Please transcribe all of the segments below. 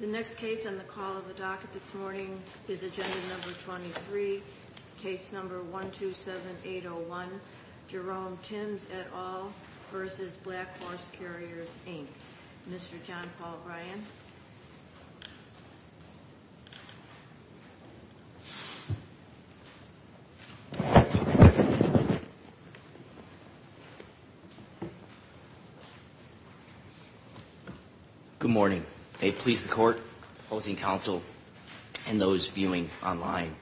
The next case on the call of the docket this morning is Agenda No. 23, Case No. 127801, Jerome Tims et al. v. Black Horse Carriers, Inc. Mr. John Paul Bryan. Good morning. May it please the court, opposing counsel, and those viewing online.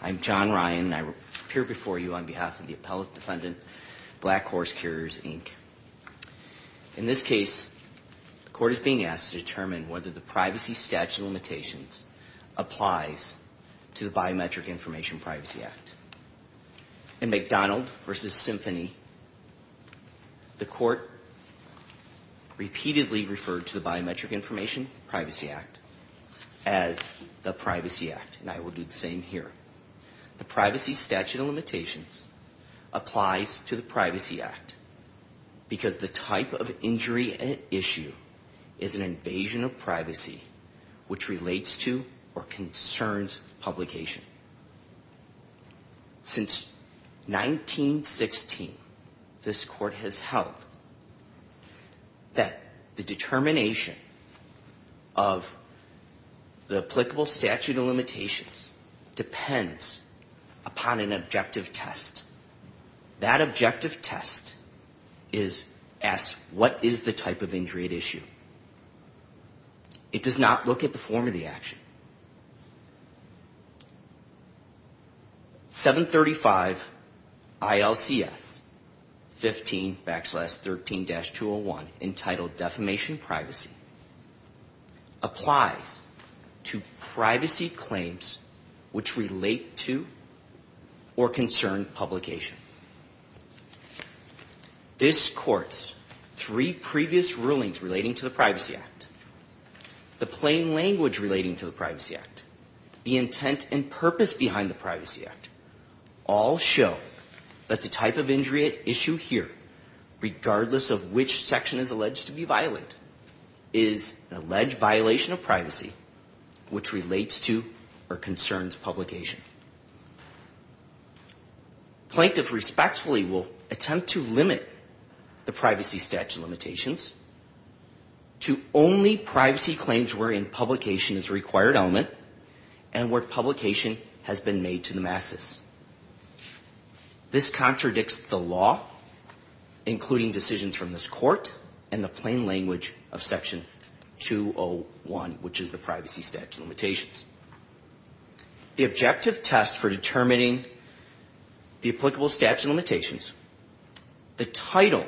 I'm John Ryan, and I appear before you on behalf of the appellate defendant, Black Horse Carriers, Inc. In this case, the court is being asked to determine whether the Privacy Statute of Limitations applies to the Biometric Information Privacy Act. In McDonald v. Symphony, the court repeatedly referred to the Biometric Information Privacy Act as the Privacy Act, and I will do the same here. The Privacy Statute of Limitations applies to the Privacy Act because the type of injury at issue is an invasion of privacy which relates to or concerns publication. Since 1916, this court has held that the determination of the applicable statute of limitations depends upon an objective test. That objective test asks, what is the type of injury at issue? It does not look at the form of the action. 735 ILCS 15 backslash 13-201, entitled Defamation Privacy, applies to privacy claims which relate to or concern publication. This court's three previous rulings relating to the Privacy Act, the plain language relating to the Privacy Act, the intent and purpose behind the Privacy Act, all show that the type of injury at issue here, regardless of which section is alleged to be violated, is an alleged violation of privacy which relates to or concerns publication. Plaintiffs respectfully will attempt to limit the Privacy Statute of Limitations to only privacy claims wherein publication is a required element and where publication has been made to the masses. This contradicts the law, including decisions from this court and the plain language of Section 201, which is the Privacy Statute of Limitations. The objective test for determining the applicable statute of limitations, the title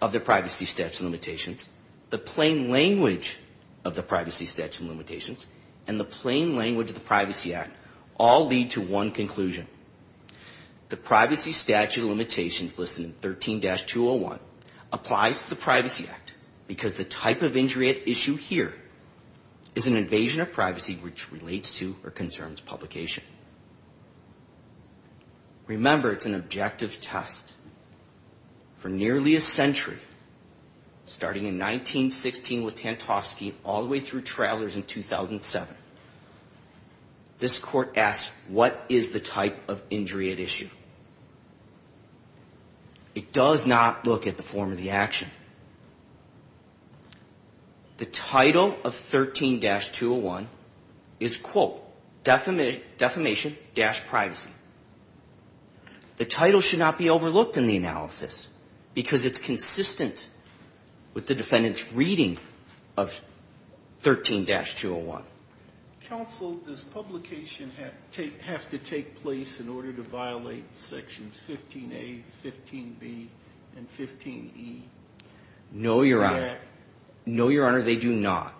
of the Privacy Statute of Limitations, the plain language of the Privacy Statute of Limitations, and the plain language of the Privacy Act all lead to one conclusion. The Privacy Statute of Limitations listed in 13-201 applies to the Privacy Act because the type of injury at issue here is an invasion of privacy which relates to or concerns publication. Remember, it's an objective test. For nearly a century, starting in 1916 with Tantovsky all the way through Travelers in 2007, this court asked, what is the type of injury at issue? It does not look at the form of the action. The title of 13-201 is, quote, defamation dash privacy. The title should not be overlooked in the analysis because it's consistent with the defendant's reading of 13-201. Counsel, does publication have to take place in order to violate Sections 15A, 15B, and 15E? No, Your Honor. No, Your Honor, they do not.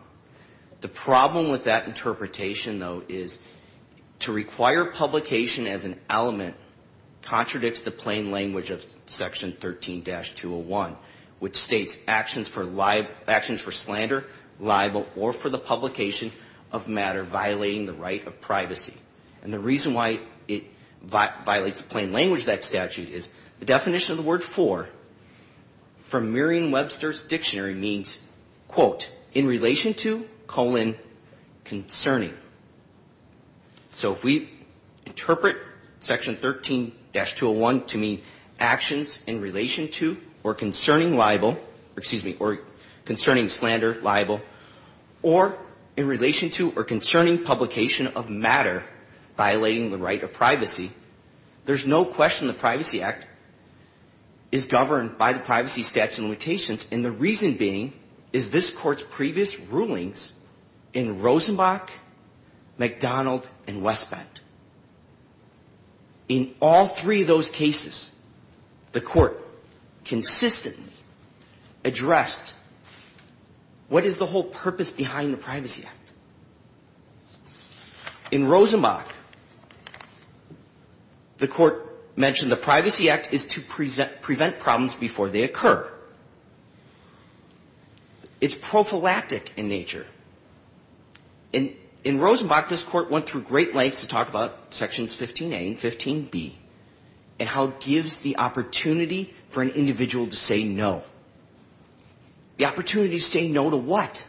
The problem with that interpretation, though, is to require publication as an element contradicts the plain language of Section 13-201, which states actions for slander, libel, or for the publication of the act. And the reason why it violates the plain language of that statute is the definition of the word for, from Merriam-Webster's dictionary, means, quote, in relation to colon concerning. So if we interpret Section 13-201 to mean actions in relation to or concerning libel, excuse me, or concerning slander, libel, or in relation to or concerning slander, or concerning publication of matter violating the right of privacy, there's no question the Privacy Act is governed by the Privacy Statute of Limitations, and the reason being is this Court's previous rulings in Rosenbach, McDonald, and Westbend. In all three of those cases, the Court consistently addressed what is the whole purpose behind the Privacy Act. In Rosenbach, the Court mentioned the Privacy Act is to prevent problems before they occur. It's prophylactic in nature. In Rosenbach, this Court went through great lengths to talk about Sections 15a and 15b and how it gives the opportunity for an individual to say no. The opportunity to say no to what?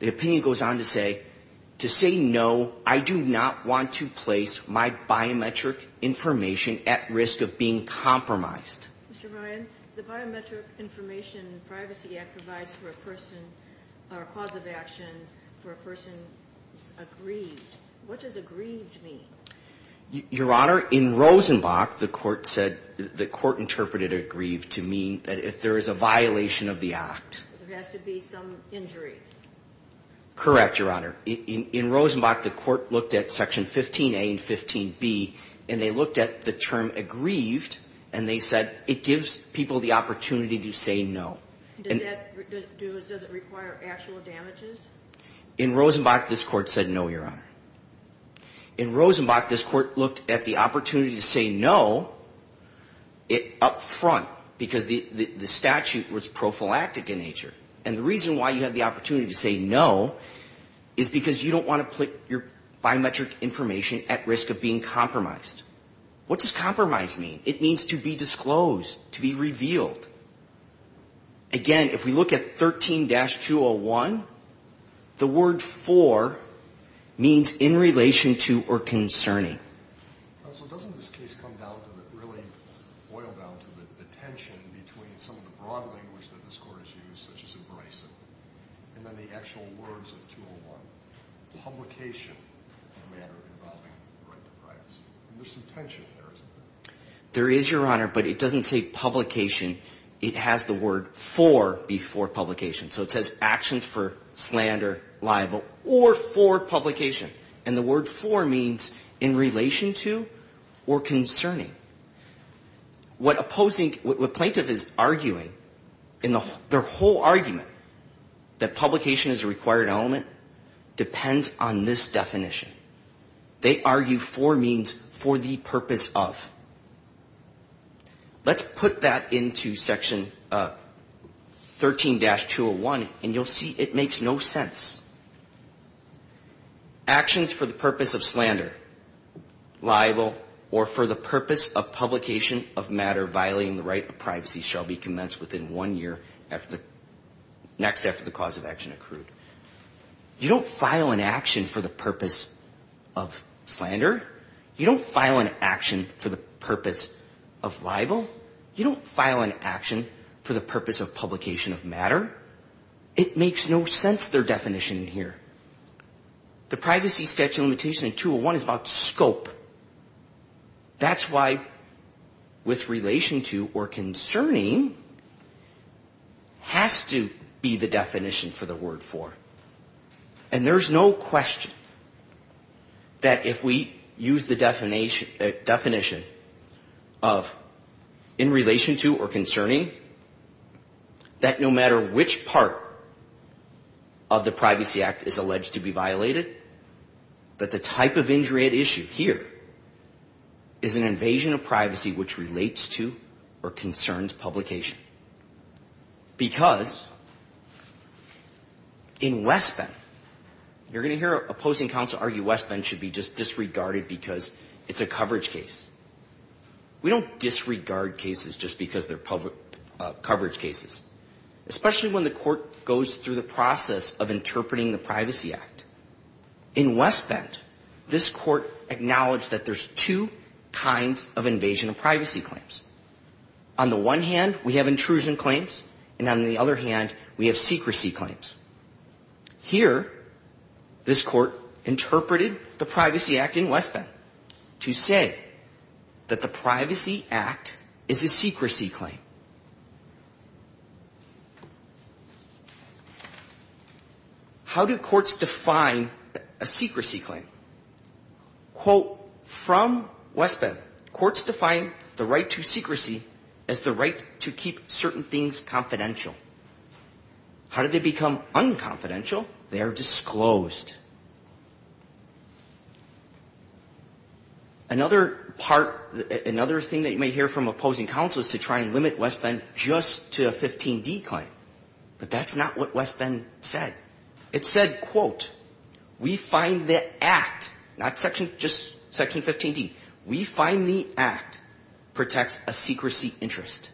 The opinion goes on to say, to say no, I do not want to place my biometric information at risk of being compromised. Mr. Ryan, the Biometric Information Privacy Act provides for a person, or a cause of action for a person aggrieved. What does aggrieved mean? Your Honor, in Rosenbach, the Court said, the Court interpreted aggrieved to mean that if there is a violation of the Act. There has to be some injury. Correct, Your Honor. In Rosenbach, the Court looked at Section 15a and 15b, and they looked at the term aggrieved, and they said it gives people the opportunity to say no. Does that, does it require actual damages? In Rosenbach, this Court said no, Your Honor. In Rosenbach, this Court looked at the opportunity to say no up front, because the statute was prophylactic in nature. And the reason why you have the opportunity to say no is because you don't want to put your biometric information at risk of being compromised. What does compromised mean? It means to be disclosed, to be revealed. Again, if we look at 13-201, the word for means in relation to or concerning. So doesn't this case come down to the, really boil down to the tension between some of the broad language that this Court has used, such as embracing, and then the actual words of 201, publication of a matter involving the right to privacy? And there's some tension there, isn't there? There is, Your Honor, but it doesn't say publication. It has the word for before publication. So it says actions for slander, libel, or for publication. And the word for means in relation to or concerning. What opposing, what plaintiff is arguing in their whole argument that publication is a required element depends on this definition. They argue for means for the purpose of. Let's put that into Section 13-201, and you'll see it makes no sense. Actions for the purpose of slander, libel, or for the purpose of publication of matter violating the right to privacy shall be commenced within one year next after the cause of action accrued. You don't file an action for the purpose of slander. You don't file an action for the purpose of libel. You don't file an action for the purpose of publication of matter. It makes no sense, their definition in here. The privacy statute limitation in 201 is about scope. That's why with relation to or concerning has to be the definition for the word for. And there's no question that if we use the definition of in relation to or concerning, that no matter which part of the Privacy Act is alleged to be violated, that the type of injury at issue here is an invasion of privacy which relates to or concerns publication. Because in West Bend, you're going to hear opposing counsel argue West Bend should be just disregarded because it's a coverage case. We don't disregard cases just because they're public coverage cases, especially when the court goes through the process of interpreting the Privacy Act. In West Bend, this court acknowledged that there's two kinds of invasion of privacy claims. On the one hand, we have intrusion claims, and on the other hand, we have secrecy claims. Here, this court interpreted the Privacy Act in West Bend to say that the Privacy Act is a secrecy claim. How do courts define a secrecy claim? Quote, from West Bend, courts define the right to secrecy as the right to keep certain things confidential. How do they become unconfidential? They are disclosed. Another part, another thing that you may hear from opposing counsel is to try and limit West Bend just to a 15D claim, but that's not what West Bend said. It said, quote, we find the act, not just section 15D, we find the act protects a secrecy interest.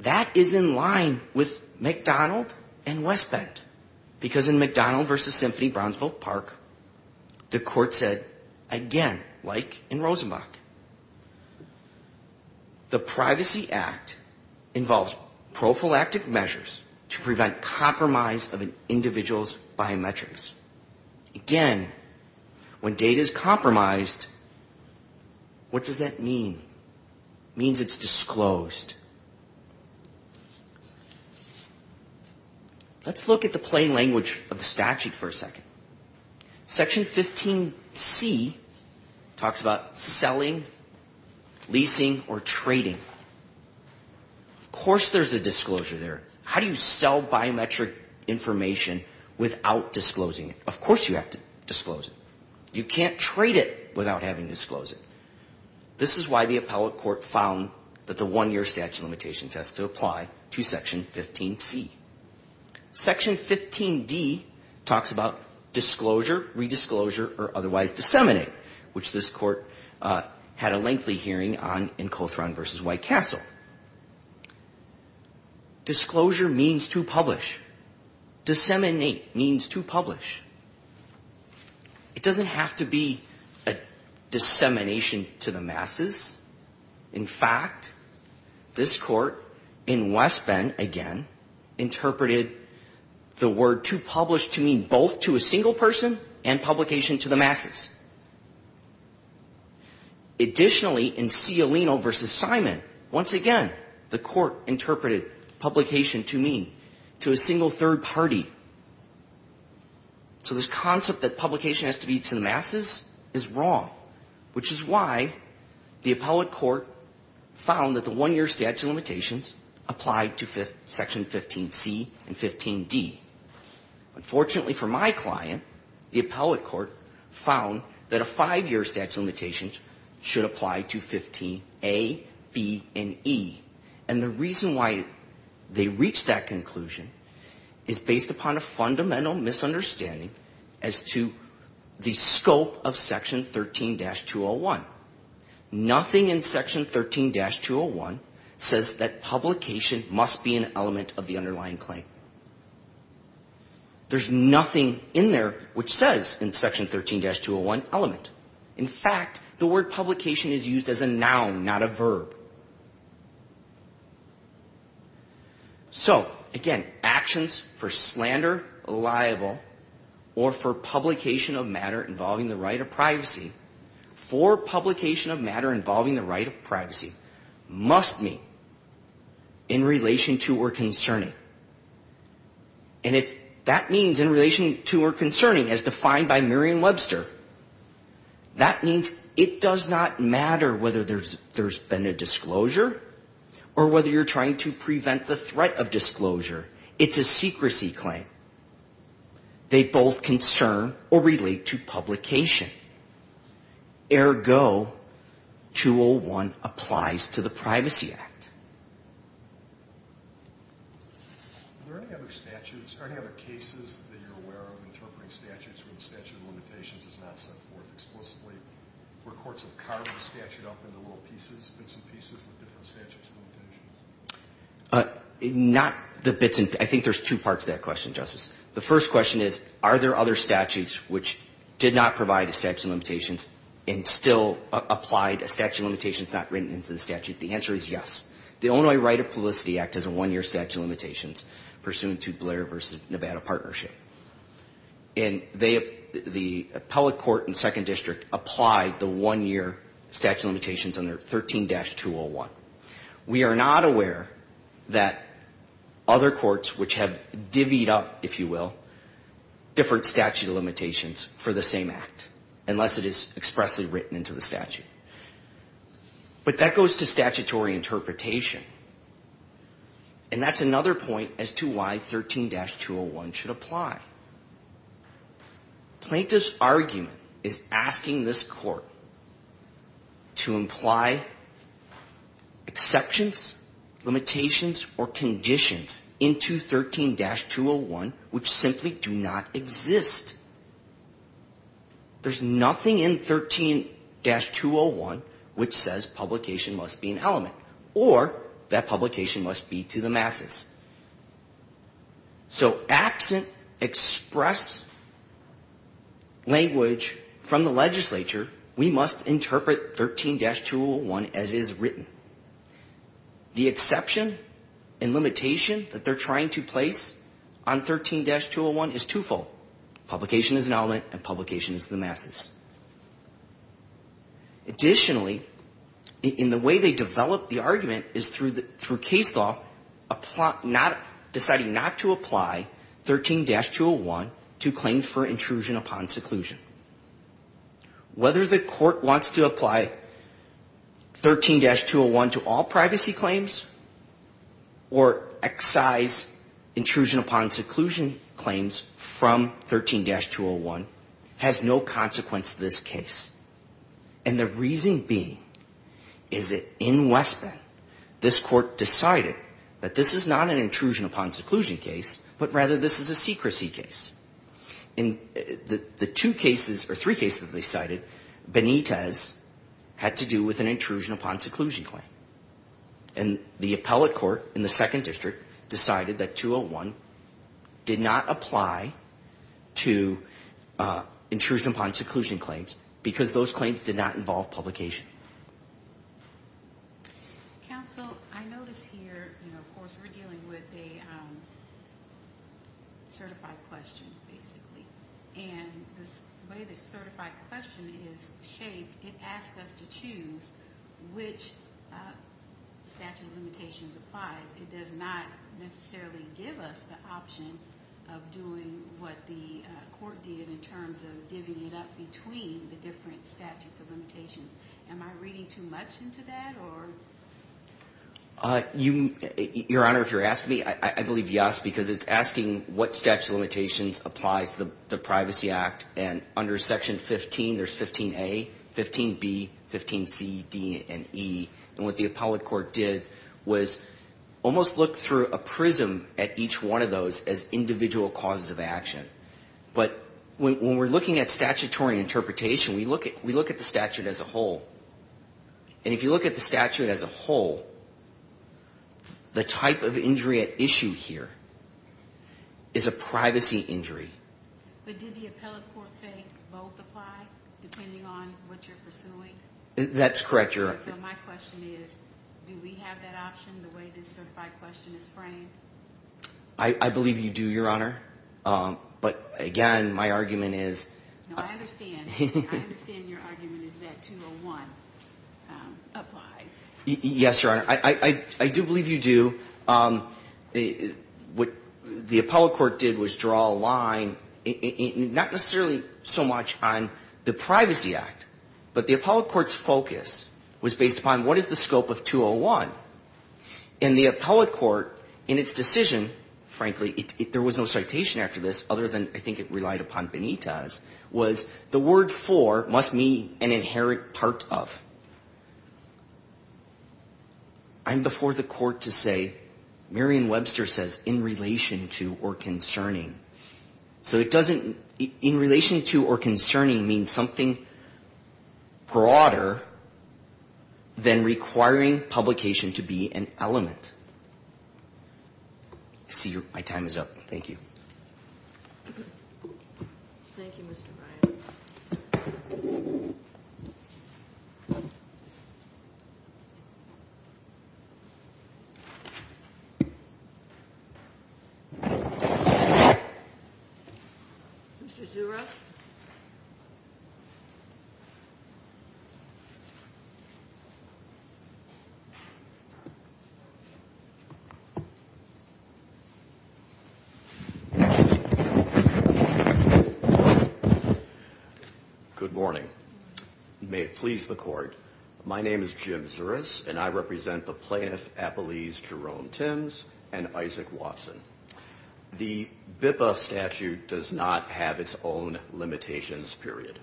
That is in line with McDonald and West Bend, because in McDonald v. Symphony Brownsville Park, the court said, again, like in Rosenbach, the Privacy Act involves prophylactic measures to prevent compromise of an individual's biometrics. Again, when data is compromised, what does that mean? It means it's disclosed. Let's look at the plain language of the statute for a second. Section 15C talks about selling, leasing, or trading. Of course there's a disclosure there. How do you sell biometric information without disclosing it? Of course you have to disclose it. You can't trade it without having to disclose it. This is why the appellate court found that the one-year statute of limitations has to apply to section 15C. Section 15D talks about disclosure, redisclosure, or otherwise disseminate, which this court had a lengthy hearing on in Cothran v. White Castle. Disclosure means to publish. Disseminate means to publish. It doesn't have to be a dissemination to the masses. In fact, this court in West Bend, again, interpreted the word to publish to mean both to a single person and publication to the masses. Additionally, in Cialino v. Simon, once again, the court interpreted publication to mean to a single third party. So this concept that publication has to be to the masses is wrong, which is why the appellate court found that the one-year statute of limitations applied to section 15C and 15D. Unfortunately for my client, the appellate court found that a five-year statute of limitations should apply to 15A, B, and E. And the reason why they reached that conclusion is based upon a fundamental misunderstanding as to the scope of section 13-201. Nothing in section 13-201 says that publication must be an element of the underlying claim. There's nothing in there which says in section 13-201 element. In fact, the word publication is used as a noun, not a verb. So, again, actions for slander, libel, or for publication of matter involving the right of privacy must mean in relation to or concerning. And if that means in relation to or concerning, as defined by Merriam-Webster, that means it does not matter whether there's been a disclosure or whether you're trying to prevent the threat of disclosure. It's a secrecy claim. They both concern or relate to publication. Ergo, 201 applies to the statute of limitations. And the reason why the statute of limitations is not set forth explicitly is because the statute of limitations is not set forth explicitly. Are there any other statutes, are there any other cases that you're aware of interpreting statutes where the statute of limitations is not set forth explicitly, where courts have carved the statute up into little pieces, bits and pieces with different statutes and limitations? And they, the appellate court in the Second District applied the one-year statute of limitations under 13-201. We are not aware that other courts which have divvied up, if you will, different statute of limitations for the same act, unless it is expressly written into the statute. But that goes to statutory interpretation. And that's another point as to why 13-201 should apply. Plaintiff's argument is asking this court to imply exceptions, limitations, or conditions into 13-201 which simply do not exist. There's nothing in 13-201 which says publication must be an element or that publication must be to the masses. So absent express language from the legislature, we must interpret 13-201 as is written. The exception and limitation that they're trying to place on 13-201 is twofold. Publication is an element and publication is to the masses. Additionally, in the way they develop the argument is through case law, deciding not to apply 13-201 to claims for intrusion upon seclusion. Whether the court wants to apply 13-201 to all privacy claims or excise intrusion upon seclusion claims from the district, the court has no right to decide that. And the reason being is that in West Bend, this court decided that this is not an intrusion upon seclusion case, but rather this is a secrecy case. And the two cases, or three cases that they cited, Benitez had to do with an intrusion upon seclusion claim. And the appellate court in the second district decided that 201 did not apply to the seclusion claim. It did not apply to intrusion upon seclusion claims because those claims did not involve publication. Counsel, I notice here, of course, we're dealing with a certified question, basically. And the way the certified question is shaped, it asks us to choose which statute of limitations applies. It does not necessarily give us the option of doing what the court did in terms of divvying it up between the different statutes of limitations. Am I reading too much into that? Your Honor, if you're asking me, I believe yes, because it's asking what statute of limitations applies to the Privacy Act. And under section 15, there's 15A, 15B, 15C, D, and E. And what the appellate court did was almost look through a prism at each one of those as individual causes of action. But when we're looking at statutory interpretation, we look at the statute as a whole. And if you look at the statute as a whole, the type of injury at issue here is a privacy injury. But did the appellate court say both apply depending on what you're pursuing? That's correct, Your Honor. And so my question is, do we have that option the way this certified question is framed? I believe you do, Your Honor. But again, my argument is... No, I understand. I understand your argument is that 201 applies. Yes, Your Honor. I do believe you do. What the appellate court did was draw a line, not necessarily so much on the Privacy Act. But the appellate court's focus was based upon what is the scope of 201? And the appellate court, in its decision, frankly, there was no citation after this, other than I think it relied upon Benitez, was the word for must mean an inherent part of. And before the court to say, Merian Webster says, in relation to or concerning. So it doesn't, in relation to or concerning means something broader than requiring publication to be an element. I see my time is up. Thank you. Thank you, Mr. Bryant. Mr. Zuras. Good morning. May it please the court. My name is Jim Zuras, and I represent the plaintiff, Appellees Jerome Timms and Isaac Watson. The BIPA statute does not have its own limitations period.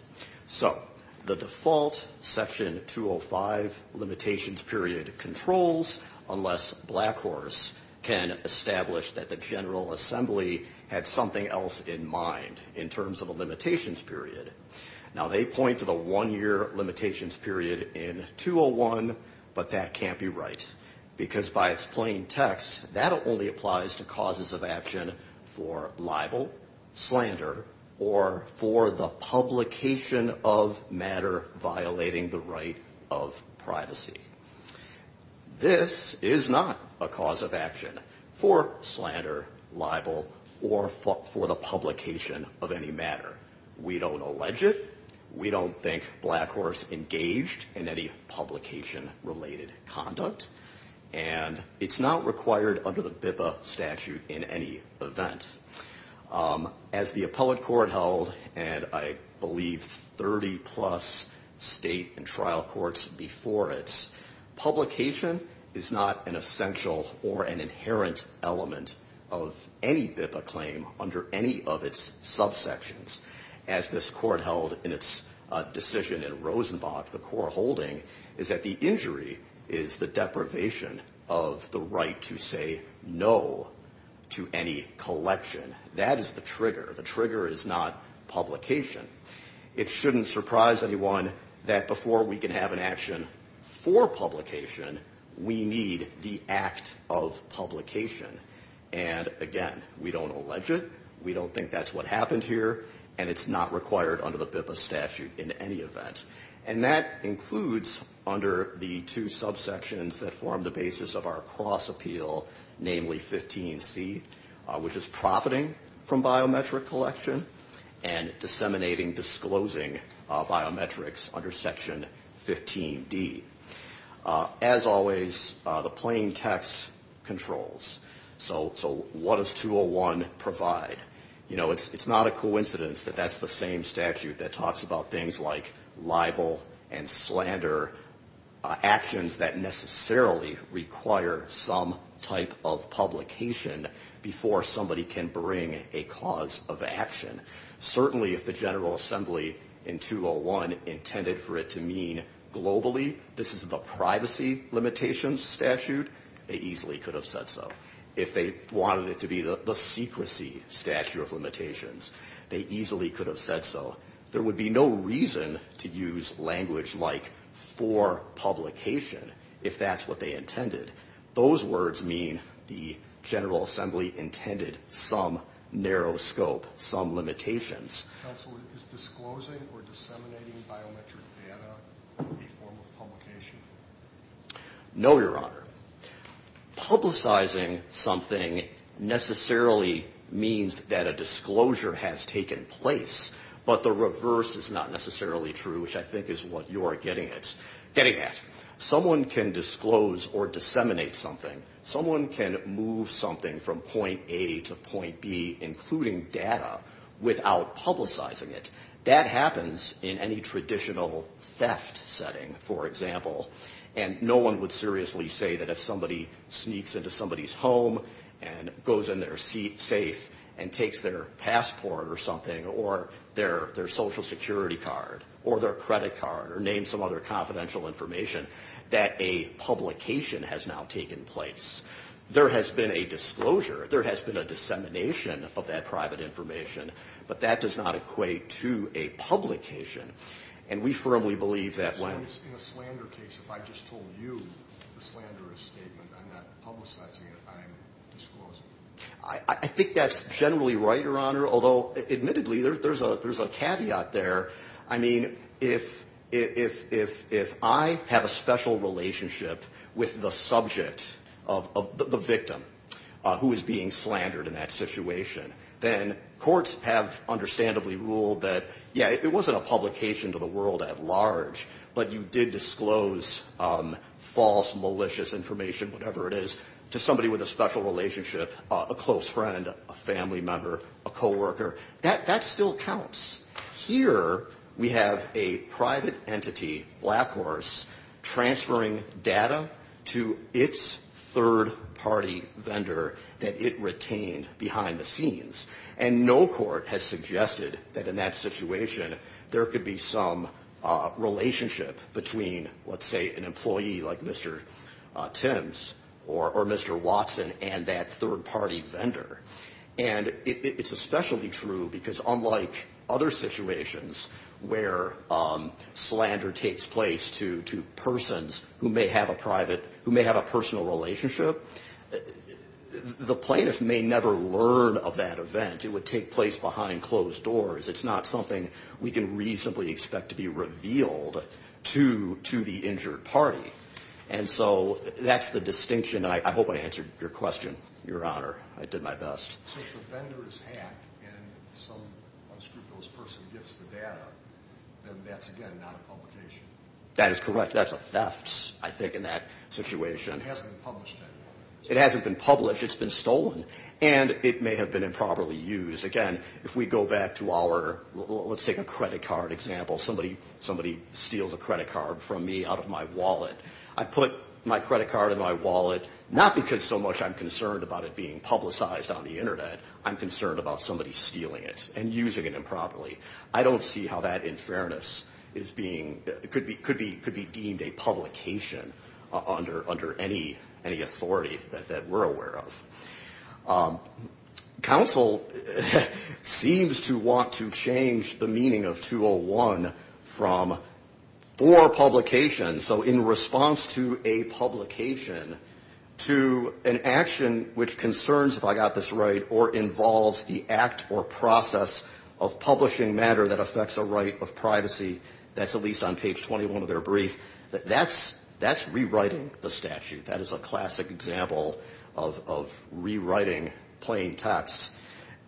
So the default, Section 205 limitations period controls, unless Blackhorse can establish that the General Assembly had something else in mind, in terms of a limitations period. Now, they point to the one-year limitations period in 201, but that can't be right. Because by its plain text, that only applies to causes of action for libel, slander, or for the publication of matter violating the right of privacy. This is not a cause of action for slander, libel, or for the publication of any matter. We don't allege it. We don't think Blackhorse engaged in any publication-related conduct. And it's not required under the BIPA statute in any event. As the appellate court held, and I believe 30-plus state and trial courts before it, publication is not an essential or an inherent element of any BIPA claim under any of its subsections. As this court held in its decision in Rosenbach, the court holding, is that the injury is the deprivation of liberty. It's the deprivation of the right to say no to any collection. That is the trigger. The trigger is not publication. It shouldn't surprise anyone that before we can have an action for publication, we need the act of publication. And, again, we don't allege it. We don't think that's what happened here. And it's not required under the BIPA statute in any event. And that includes under the two subsections that form the basis of our cross-appeal, namely 15C, which is profiting from biometric collection and disseminating, disclosing biometrics under Section 15D. As always, the plain text controls. So what does 201 provide? You know, it's not a coincidence that that's the same statute that talks about things like libel and slander, actions that necessarily require some type of publication before somebody can bring a cause of action. Certainly if the General Assembly in 201 intended for it to mean globally, this is the privacy limitations statute, they easily could have said so. If they wanted it to be the secrecy statute of limitations, they easily could have said so. There would be no reason to use language like for publication if that's what they intended. Those words mean the General Assembly intended some narrow scope, some limitations. Counsel, is disclosing or disseminating biometric data a form of publication? No, Your Honor. Publicizing something necessarily means that a disclosure has taken place, but the reverse is not necessarily true, which I think is what you are getting at. Someone can disclose or disseminate something, someone can move something from point A to point B, including data, without publicizing it. That happens in any traditional theft setting, for example, and no one would seriously say that if somebody sneaks into somebody's home and goes in their safe and takes their passport or something, or their Social Security card, or their credit card, or name some other confidential information, that a publication has now taken place. There has been a disclosure, there has been a dissemination of that private information, but that does not equate to a publication, and we firmly believe that when... So in a slander case, if I just told you the slanderous statement, I'm not publicizing it, I'm disclosing it. I think that's generally right, Your Honor, although admittedly there's a caveat there. I mean, if I have a special relationship with the subject of the victim who is being slandered in that situation, then courts have understandably ruled that, yeah, it wasn't a publication to the world at large, but you did disclose false, malicious information, whatever it is, to somebody with a special relationship, a close friend, a family member, a coworker. That still counts. It's a third-party vendor that it retained behind the scenes. And no court has suggested that in that situation there could be some relationship between, let's say, an employee like Mr. Timms or Mr. Watson and that third-party vendor. And it's especially true because unlike other situations where slander takes place to persons who may have a personal relationship, the plaintiff may never learn of that event. It would take place behind closed doors. It's not something we can reasonably expect to be revealed to the injured party. And so that's the distinction, and I hope I answered your question, Your Honor. I did my best. If the vendor is hacked and some unscrupulous person gets the data, then that's, again, not a publication. That is correct. That's a theft, I think, in that situation. It hasn't been published. It's been stolen, and it may have been improperly used. Again, if we go back to our, let's take a credit card example. Somebody steals a credit card from me out of my wallet. I put my credit card in my wallet not because so much I'm concerned about it being publicized on the Internet. I'm concerned about somebody stealing it and using it improperly. I don't see how that, in fairness, could be deemed a publication under any authority that we're aware of. Counsel seems to want to change the meaning of 201 from for publication, so in response to a publication, to an action which concerns, if I got this right, or involves the act or process of publishing matter that affects a right of privacy. That's at least on page 21 of their brief. That's rewriting the statute. That is a classic example of rewriting plain text.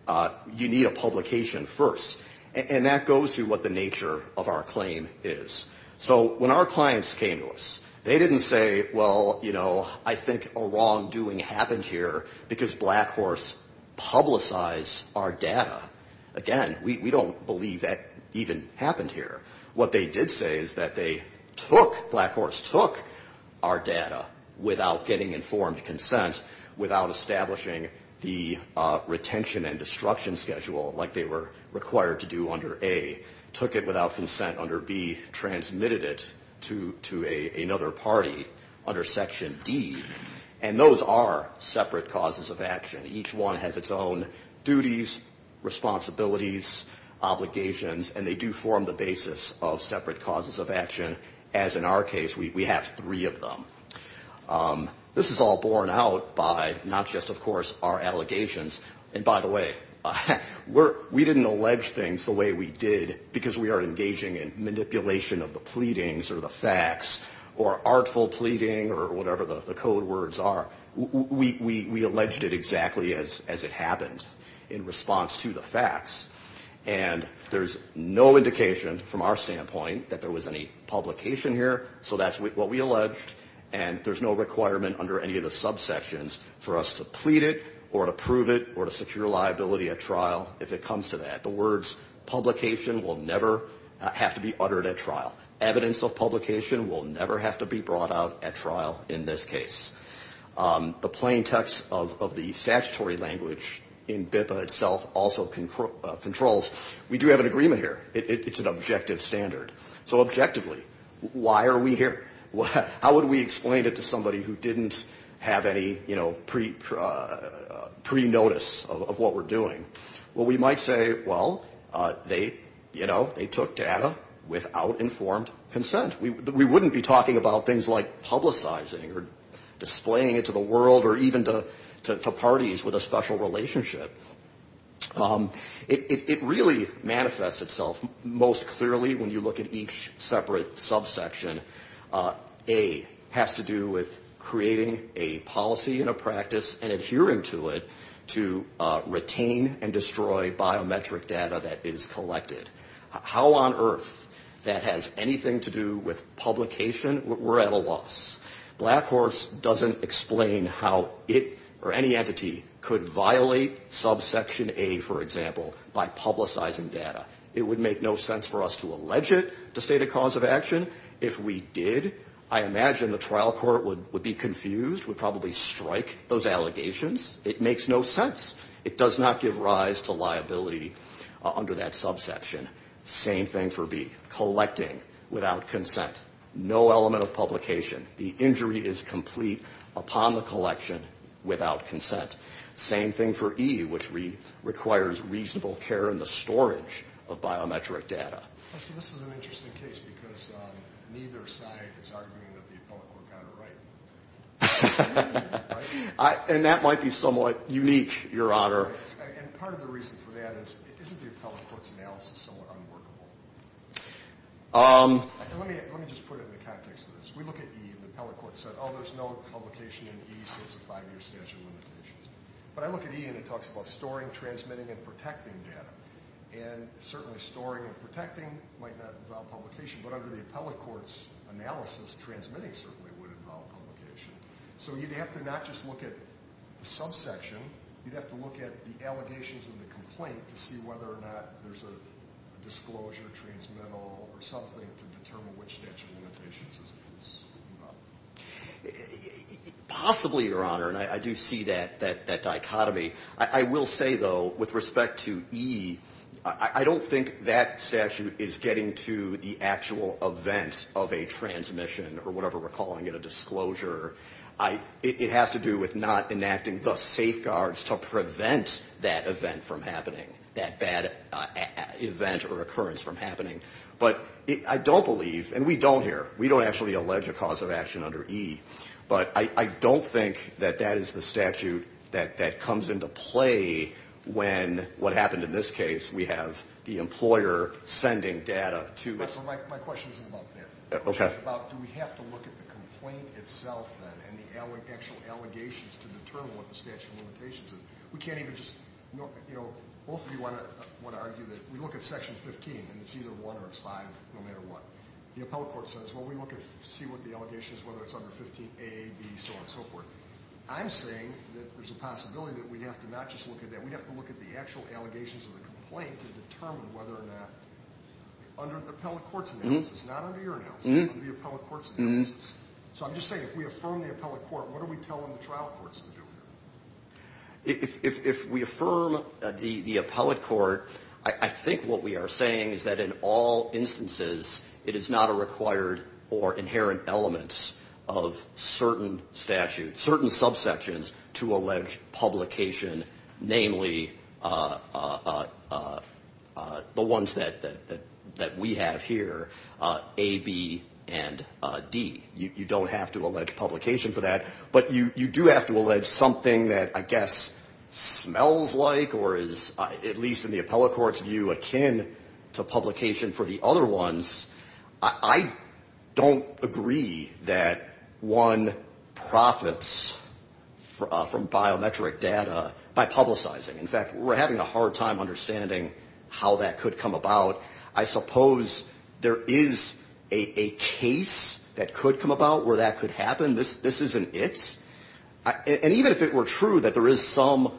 You need a publication first, and that goes to what the nature of our claim is. So when our clients came to us, they didn't say, well, you know, I think a wrongdoing happened here because Blackhorse publicized our data. Again, we don't believe that even happened here. What they did say is that they took, Blackhorse took our data without getting informed consent, without establishing the retention and destruction schedule like they were required to do under A, took it without consent under B, transmitted it to another party under Section D, and those are separate causes of action. Each one has its own duties, responsibilities, obligations, and they do form the basis of separate causes of action, as in our case, we have three of them. This is all borne out by not just, of course, our allegations, and by the way, we didn't allege things the way we did because we are engaging in manipulation of the pleadings or the facts or artful pleading or whatever the code words are. We alleged it exactly as it happened in response to the facts, and there's no indication from our standpoint that there was any publication here, so that's what we alleged, and there's no requirement under any of the subsections for us to plead it or to prove it or to secure liability at trial if it comes to that. The words publication will never have to be uttered at trial. Evidence of publication will never have to be brought out at trial in this case. The plain text of the statutory language in BIPA itself also controls, we do have an agreement here, it's an objective standard, so objectively, why are we here? How would we explain it to somebody who didn't have any pre-notice of what we're doing? Well, we might say, well, they, you know, they took data without informed consent. We wouldn't be talking about things like publicizing or displaying it to the world or even to parties with a special relationship. It really manifests itself most clearly when you look at each separate subsection. A has to do with creating a policy and a practice and adhering to it to retain and destroy biometric data that is collected. How on earth that has anything to do with publication, we're at a loss. Blackhorse doesn't explain how it or any entity could violate subsection A, for example, by publicizing data. It would make no sense for us to allege it to state a cause of action. If we did, I imagine the trial court would be confused, would probably strike those allegations. It makes no sense. It does not give rise to liability under that subsection. Same thing for B, collecting without consent. No element of publication. The injury is complete upon the collection without consent. Same thing for E, which requires reasonable care in the storage of biometric data. So this is an interesting case because neither side is arguing that the appellate court got it right. And that might be somewhat unique, Your Honor. And part of the reason for that is, isn't the appellate court's analysis somewhat unworkable? Let me just put it in the context of this. We look at E, the appellate court said, oh, there's no publication in E, so it's a five-year statute of limitations. But I look at E and it talks about storing, transmitting, and protecting data. And certainly storing and protecting might not involve publication, but under the appellate court's analysis, transmitting certainly would involve publication. So you'd have to not just look at the subsection, you'd have to look at the allegations in the complaint to see whether or not there's a disclosure, transmittal, or something to determine which statute of limitations is involved. Possibly, Your Honor, and I do see that dichotomy. I will say, though, with respect to E, I don't think that statute is getting to the actual events of a transmission. Or whatever we're calling it, a disclosure. It has to do with not enacting the safeguards to prevent that event from happening, that bad event or occurrence from happening. But I don't believe, and we don't here, we don't actually allege a cause of action under E. But I don't think that that is the statute that comes into play when, what happened in this case, we have the employer sending data to... My question isn't about that. It's about do we have to look at the complaint itself, then, and the actual allegations to determine what the statute of limitations is. We can't even just, you know, both of you want to argue that we look at Section 15, and it's either 1 or it's 5, no matter what. The appellate court says, well, we look and see what the allegations, whether it's under 15A, B, so on and so forth. I'm saying that there's a possibility that we'd have to not just look at that. We'd have to look at the actual allegations of the complaint to determine whether or not, under the appellate court's analysis, not under your analysis, under the appellate court's analysis. So I'm just saying, if we affirm the appellate court, what are we telling the trial courts to do? If we affirm the appellate court, I think what we are saying is that in all instances, it is not a required or inherent element of certain statutes, certain subsections, to allege publication, namely the ones that we have here, A, B, and D. You don't have to allege publication for that, but you do have to allege something that, I guess, smells like or is, at least in the appellate court's view, akin to publication for the other ones. I don't agree that one profits from biometric data by publicizing. In fact, we're having a hard time understanding how that could come about. I suppose there is a case that could come about where that could happen. This isn't it. And even if it were true that there is some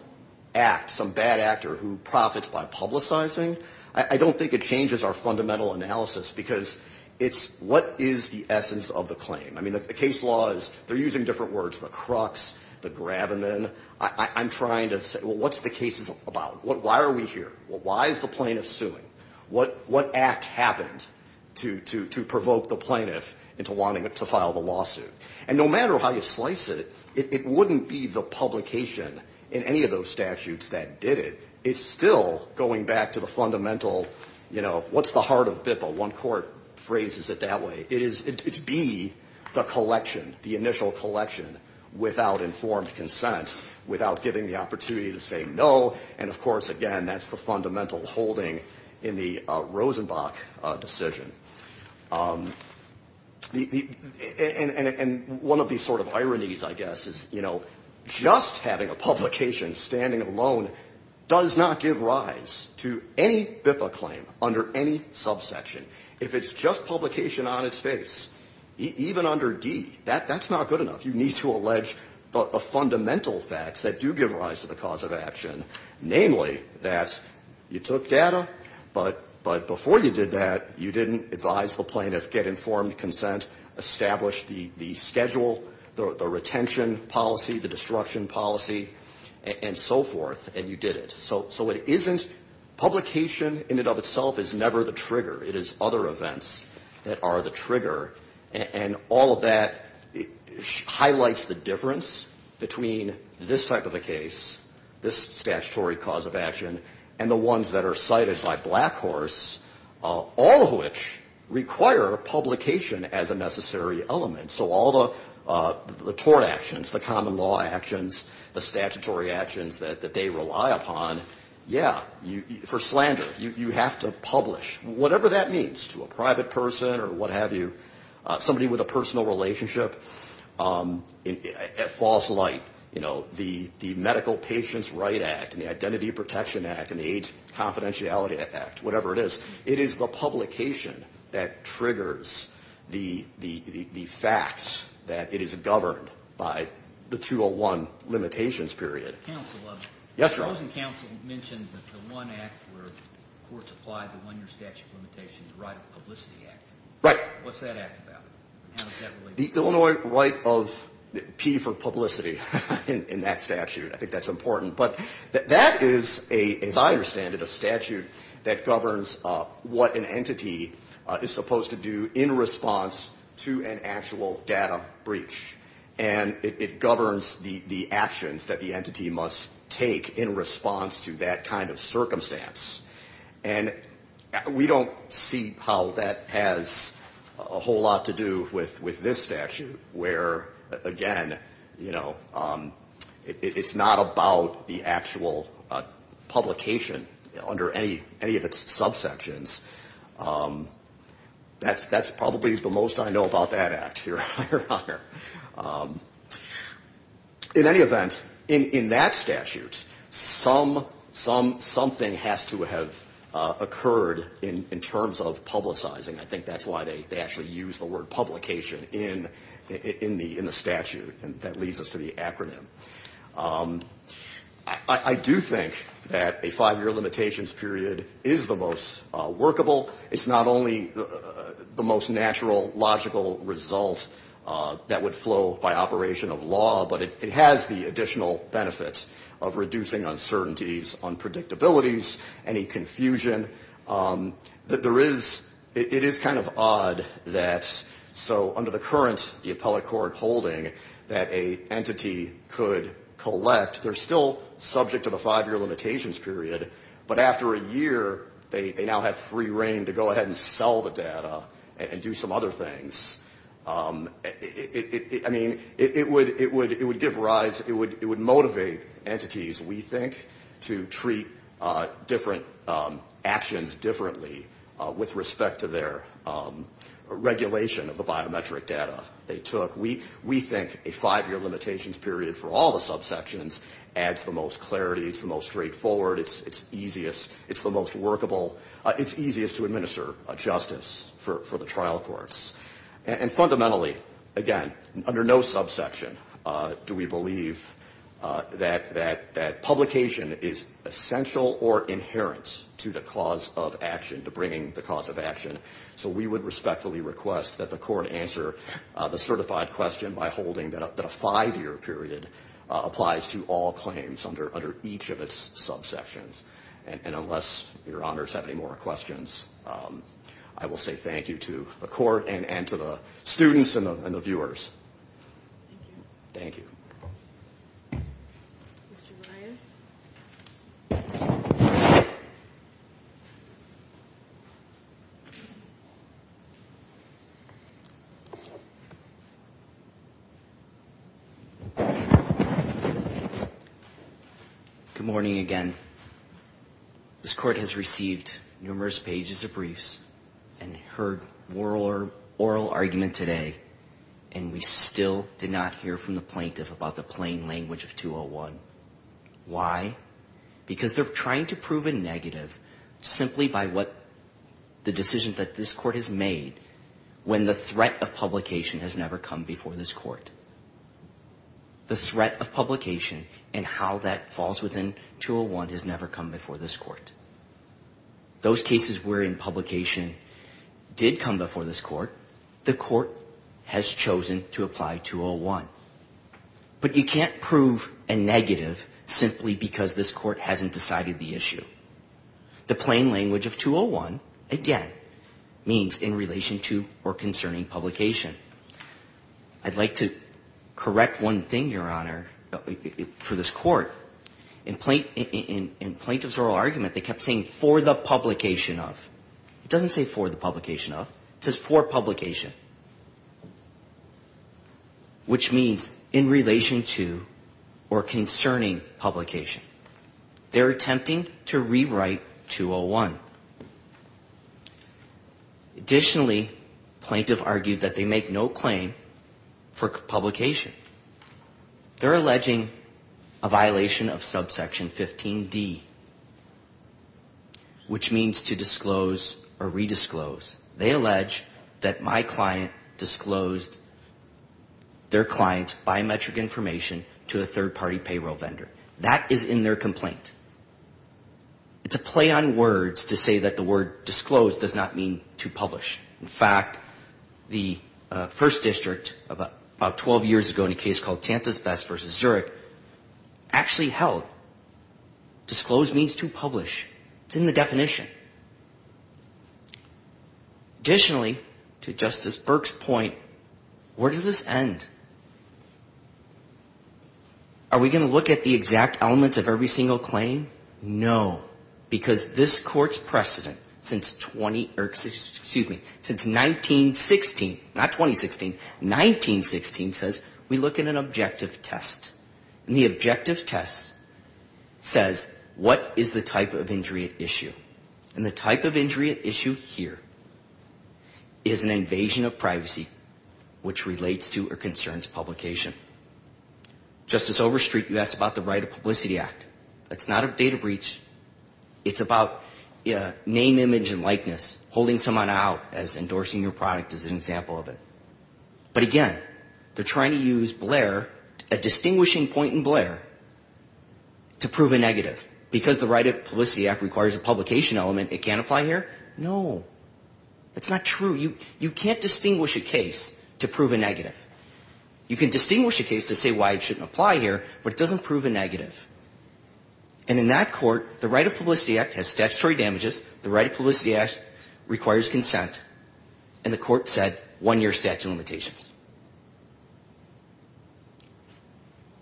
act, some bad actor who profits by publicizing, I don't think it changes our fundamental analysis, because it's what is the essence of the claim? I mean, the case law is, they're using different words, the crux, the gravamen. I'm trying to say, well, what's the case about? Why are we here? Well, why is the plaintiff suing? What act happened to provoke the plaintiff into wanting to file the lawsuit? And no matter how you slice it, it wouldn't be the publication in any of those statutes that did it. It's still going back to the fundamental, you know, what's the heart of BIPA? One court phrases it that way. It's B, the collection, the initial collection, without informed consent, without giving the opportunity to say no. And of course, again, that's the fundamental holding in the Rosenbach decision. And one of these sort of ironies, I guess, is, you know, just having a publication standing alone does not give rise to any BIPA claim under any subsection. If it's just publication on its face, even under D, that's not good enough. You need to allege the fundamental facts that do give rise to the cause of action. Namely, that you took data, but before you did that, you didn't advise the plaintiff, get informed consent, establish the schedule, the retention policy, the destruction policy, and so forth, and you did it. So it isn't publication in and of itself is never the trigger. It is other events that are the trigger, and all of that highlights the difference between this type of a case, this statutory cause of action, and the ones that are cited by Blackhorse, all of which require publication as a necessary element. So all the tort actions, the common law actions, the statutory actions that they rely upon, yeah, for slander, you have to publish. Whatever that means to a private person or what have you, somebody with a personal relationship, at false light, you know, the Medical Patients' Right Act and the Identity Protection Act and the AIDS Confidentiality Act, whatever it is, it is the publication that triggers the facts that it is governed by the 201 limitations period. Yes, Your Honor. The Illinois right of P for publicity in that statute. I think that's important, but that is, as I understand it, a statute that governs what an entity is supposed to do in response to an actual data breach, and it governs the actions that the entity must take. In response to that kind of circumstance. And we don't see how that has a whole lot to do with this statute, where, again, you know, it's not about the actual publication under any of its subsections. That's probably the most I know about that act, Your Honor. In any event, in that statute, something has to have occurred in terms of publicizing. I think that's why they actually use the word publication in the statute. And that leads us to the acronym. I do think that a five-year limitations period is the most workable. It's not only the most natural, logical result that would flow by operation of law, but it has the additional benefit of reducing uncertainties, unpredictabilities, any confusion. It is kind of odd that, so under the current, the appellate court holding, that an entity could collect, they're still subject to the five-year limitations period, but after a year, they now have free reign to go ahead and sell the data and do some other things. I mean, it would give rise, it would motivate entities, we think, to treat different actions differently with respect to their regulation of the biometric data they took. We think a five-year limitations period for all the subsections adds the most clarity. It's the most straightforward, it's easiest, it's the most workable, it's easiest to administer justice for the trial courts. And fundamentally, again, under no subsection do we believe that publication is essential or inherent to the cause of action, to bringing the cause of action. So we would respectfully request that the court answer the certified question by holding that a five-year period for each of its subsections. And unless your honors have any more questions, I will say thank you to the court and to the students and the viewers. Thank you. Good morning again. This court has received numerous pages of briefs and heard oral argument today, and we still did not hear from the plaintiff about the plain language of 201. Why? Because they're trying to prove a negative simply by what the decision that this court has made, when the threat of publication has never come before this court. The threat of publication and how that falls within 201 has never come before this court. Those cases wherein publication did come before this court, the court has chosen to apply 201. But you can't prove a negative simply because this court hasn't decided the issue. The plain language of 201, again, means in relation to or concerning publication. I'd like to correct one thing, Your Honor, for this court. In plaintiff's oral argument, they kept saying for the publication of. It doesn't say for the publication of. It says for publication, which means in relation to or concerning publication. They're attempting to rewrite 201. Additionally, plaintiff argued that they make no claim for publication. They're alleging a violation of subsection 15D, which means to disclose or redisclose. They allege that my client disclosed their client's biometric information to a third-party payroll vendor. That is in their complaint. It's a play on words to say that the word disclosed does not mean to publish. In fact, the first district about 12 years ago in a case called Tantas Best v. Zurich actually held disclosed means to publish. It's in the definition. Additionally, to Justice Burke's point, where does this end? Does this end with the exact elements of every single claim? No, because this court's precedent since 20, excuse me, since 1916, not 2016, 1916 says we look at an objective test. And the objective test says what is the type of injury at issue? And the type of injury at issue here is an invasion of privacy, which relates to or concerns publication. It's not a data breach. It's about name, image, and likeness, holding someone out as endorsing your product is an example of it. But again, they're trying to use Blair, a distinguishing point in Blair, to prove a negative. Because the Right to Publicity Act requires a publication element, it can't apply here? No. That's not true. You can't distinguish a case to prove a negative. You can distinguish a case to say why it shouldn't apply here, but it doesn't prove a negative. And in that court, the Right to Publicity Act has statutory damages, the Right to Publicity Act requires consent, and the court said one-year statute of limitations.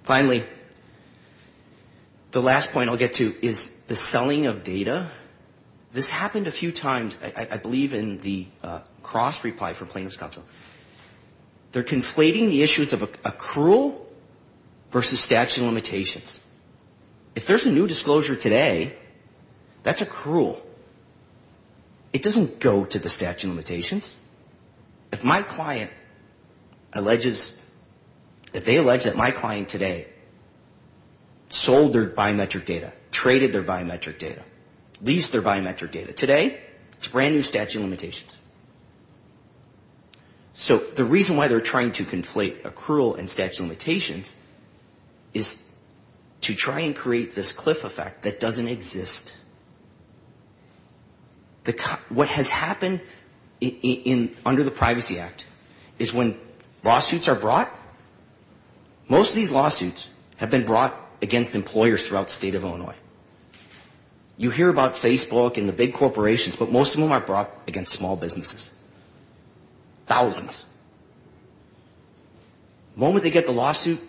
Finally, the last point I'll get to is the selling of data. This happened a few times, I believe, in the cross-reply for plaintiffs' counsel. They're conflating the issues of accrual versus statute of limitations. If there's a new disclosure today, that's accrual. It doesn't go to the statute of limitations. If my client alleges, if they allege that my client today sold their biometric data, traded their biometric data, leased their biometric data, today, it's a brand-new statute of limitations. So the reason why they're trying to conflate accrual and statute of limitations is to try and create this cliff effect that doesn't exist. What has happened under the Privacy Act is when lawsuits are brought, most of these lawsuits have been brought against employers throughout the state of Illinois. You hear about Facebook and the big corporations, but most of them are brought against small businesses. Thousands. The moment they get the lawsuit,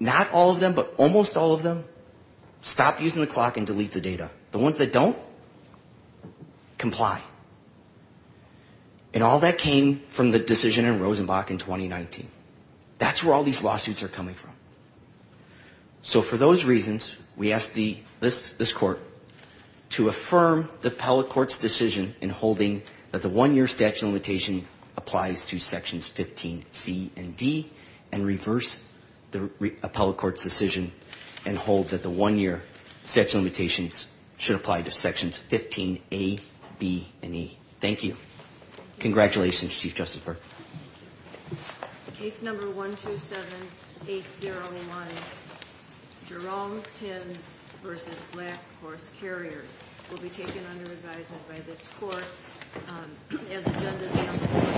not all of them, but almost all of them stop using the clock and delete the data. The ones that don't, comply. And all that came from the decision in Rosenbach in 2019. That's where all these lawsuits are coming from. So for those reasons, we ask this court to affirm the appellate court's decision in holding that the one-year statute of limitations applies to Sections 15C and D, and reverse the appellate court's decision and hold that the one-year statute of limitations should apply to Sections 15A, B, and E. Thank you. Congratulations, Chief Justifier. Jerome Tins v. Black Horse Carriers will be taken under advisement by this court as a gender-bound suit.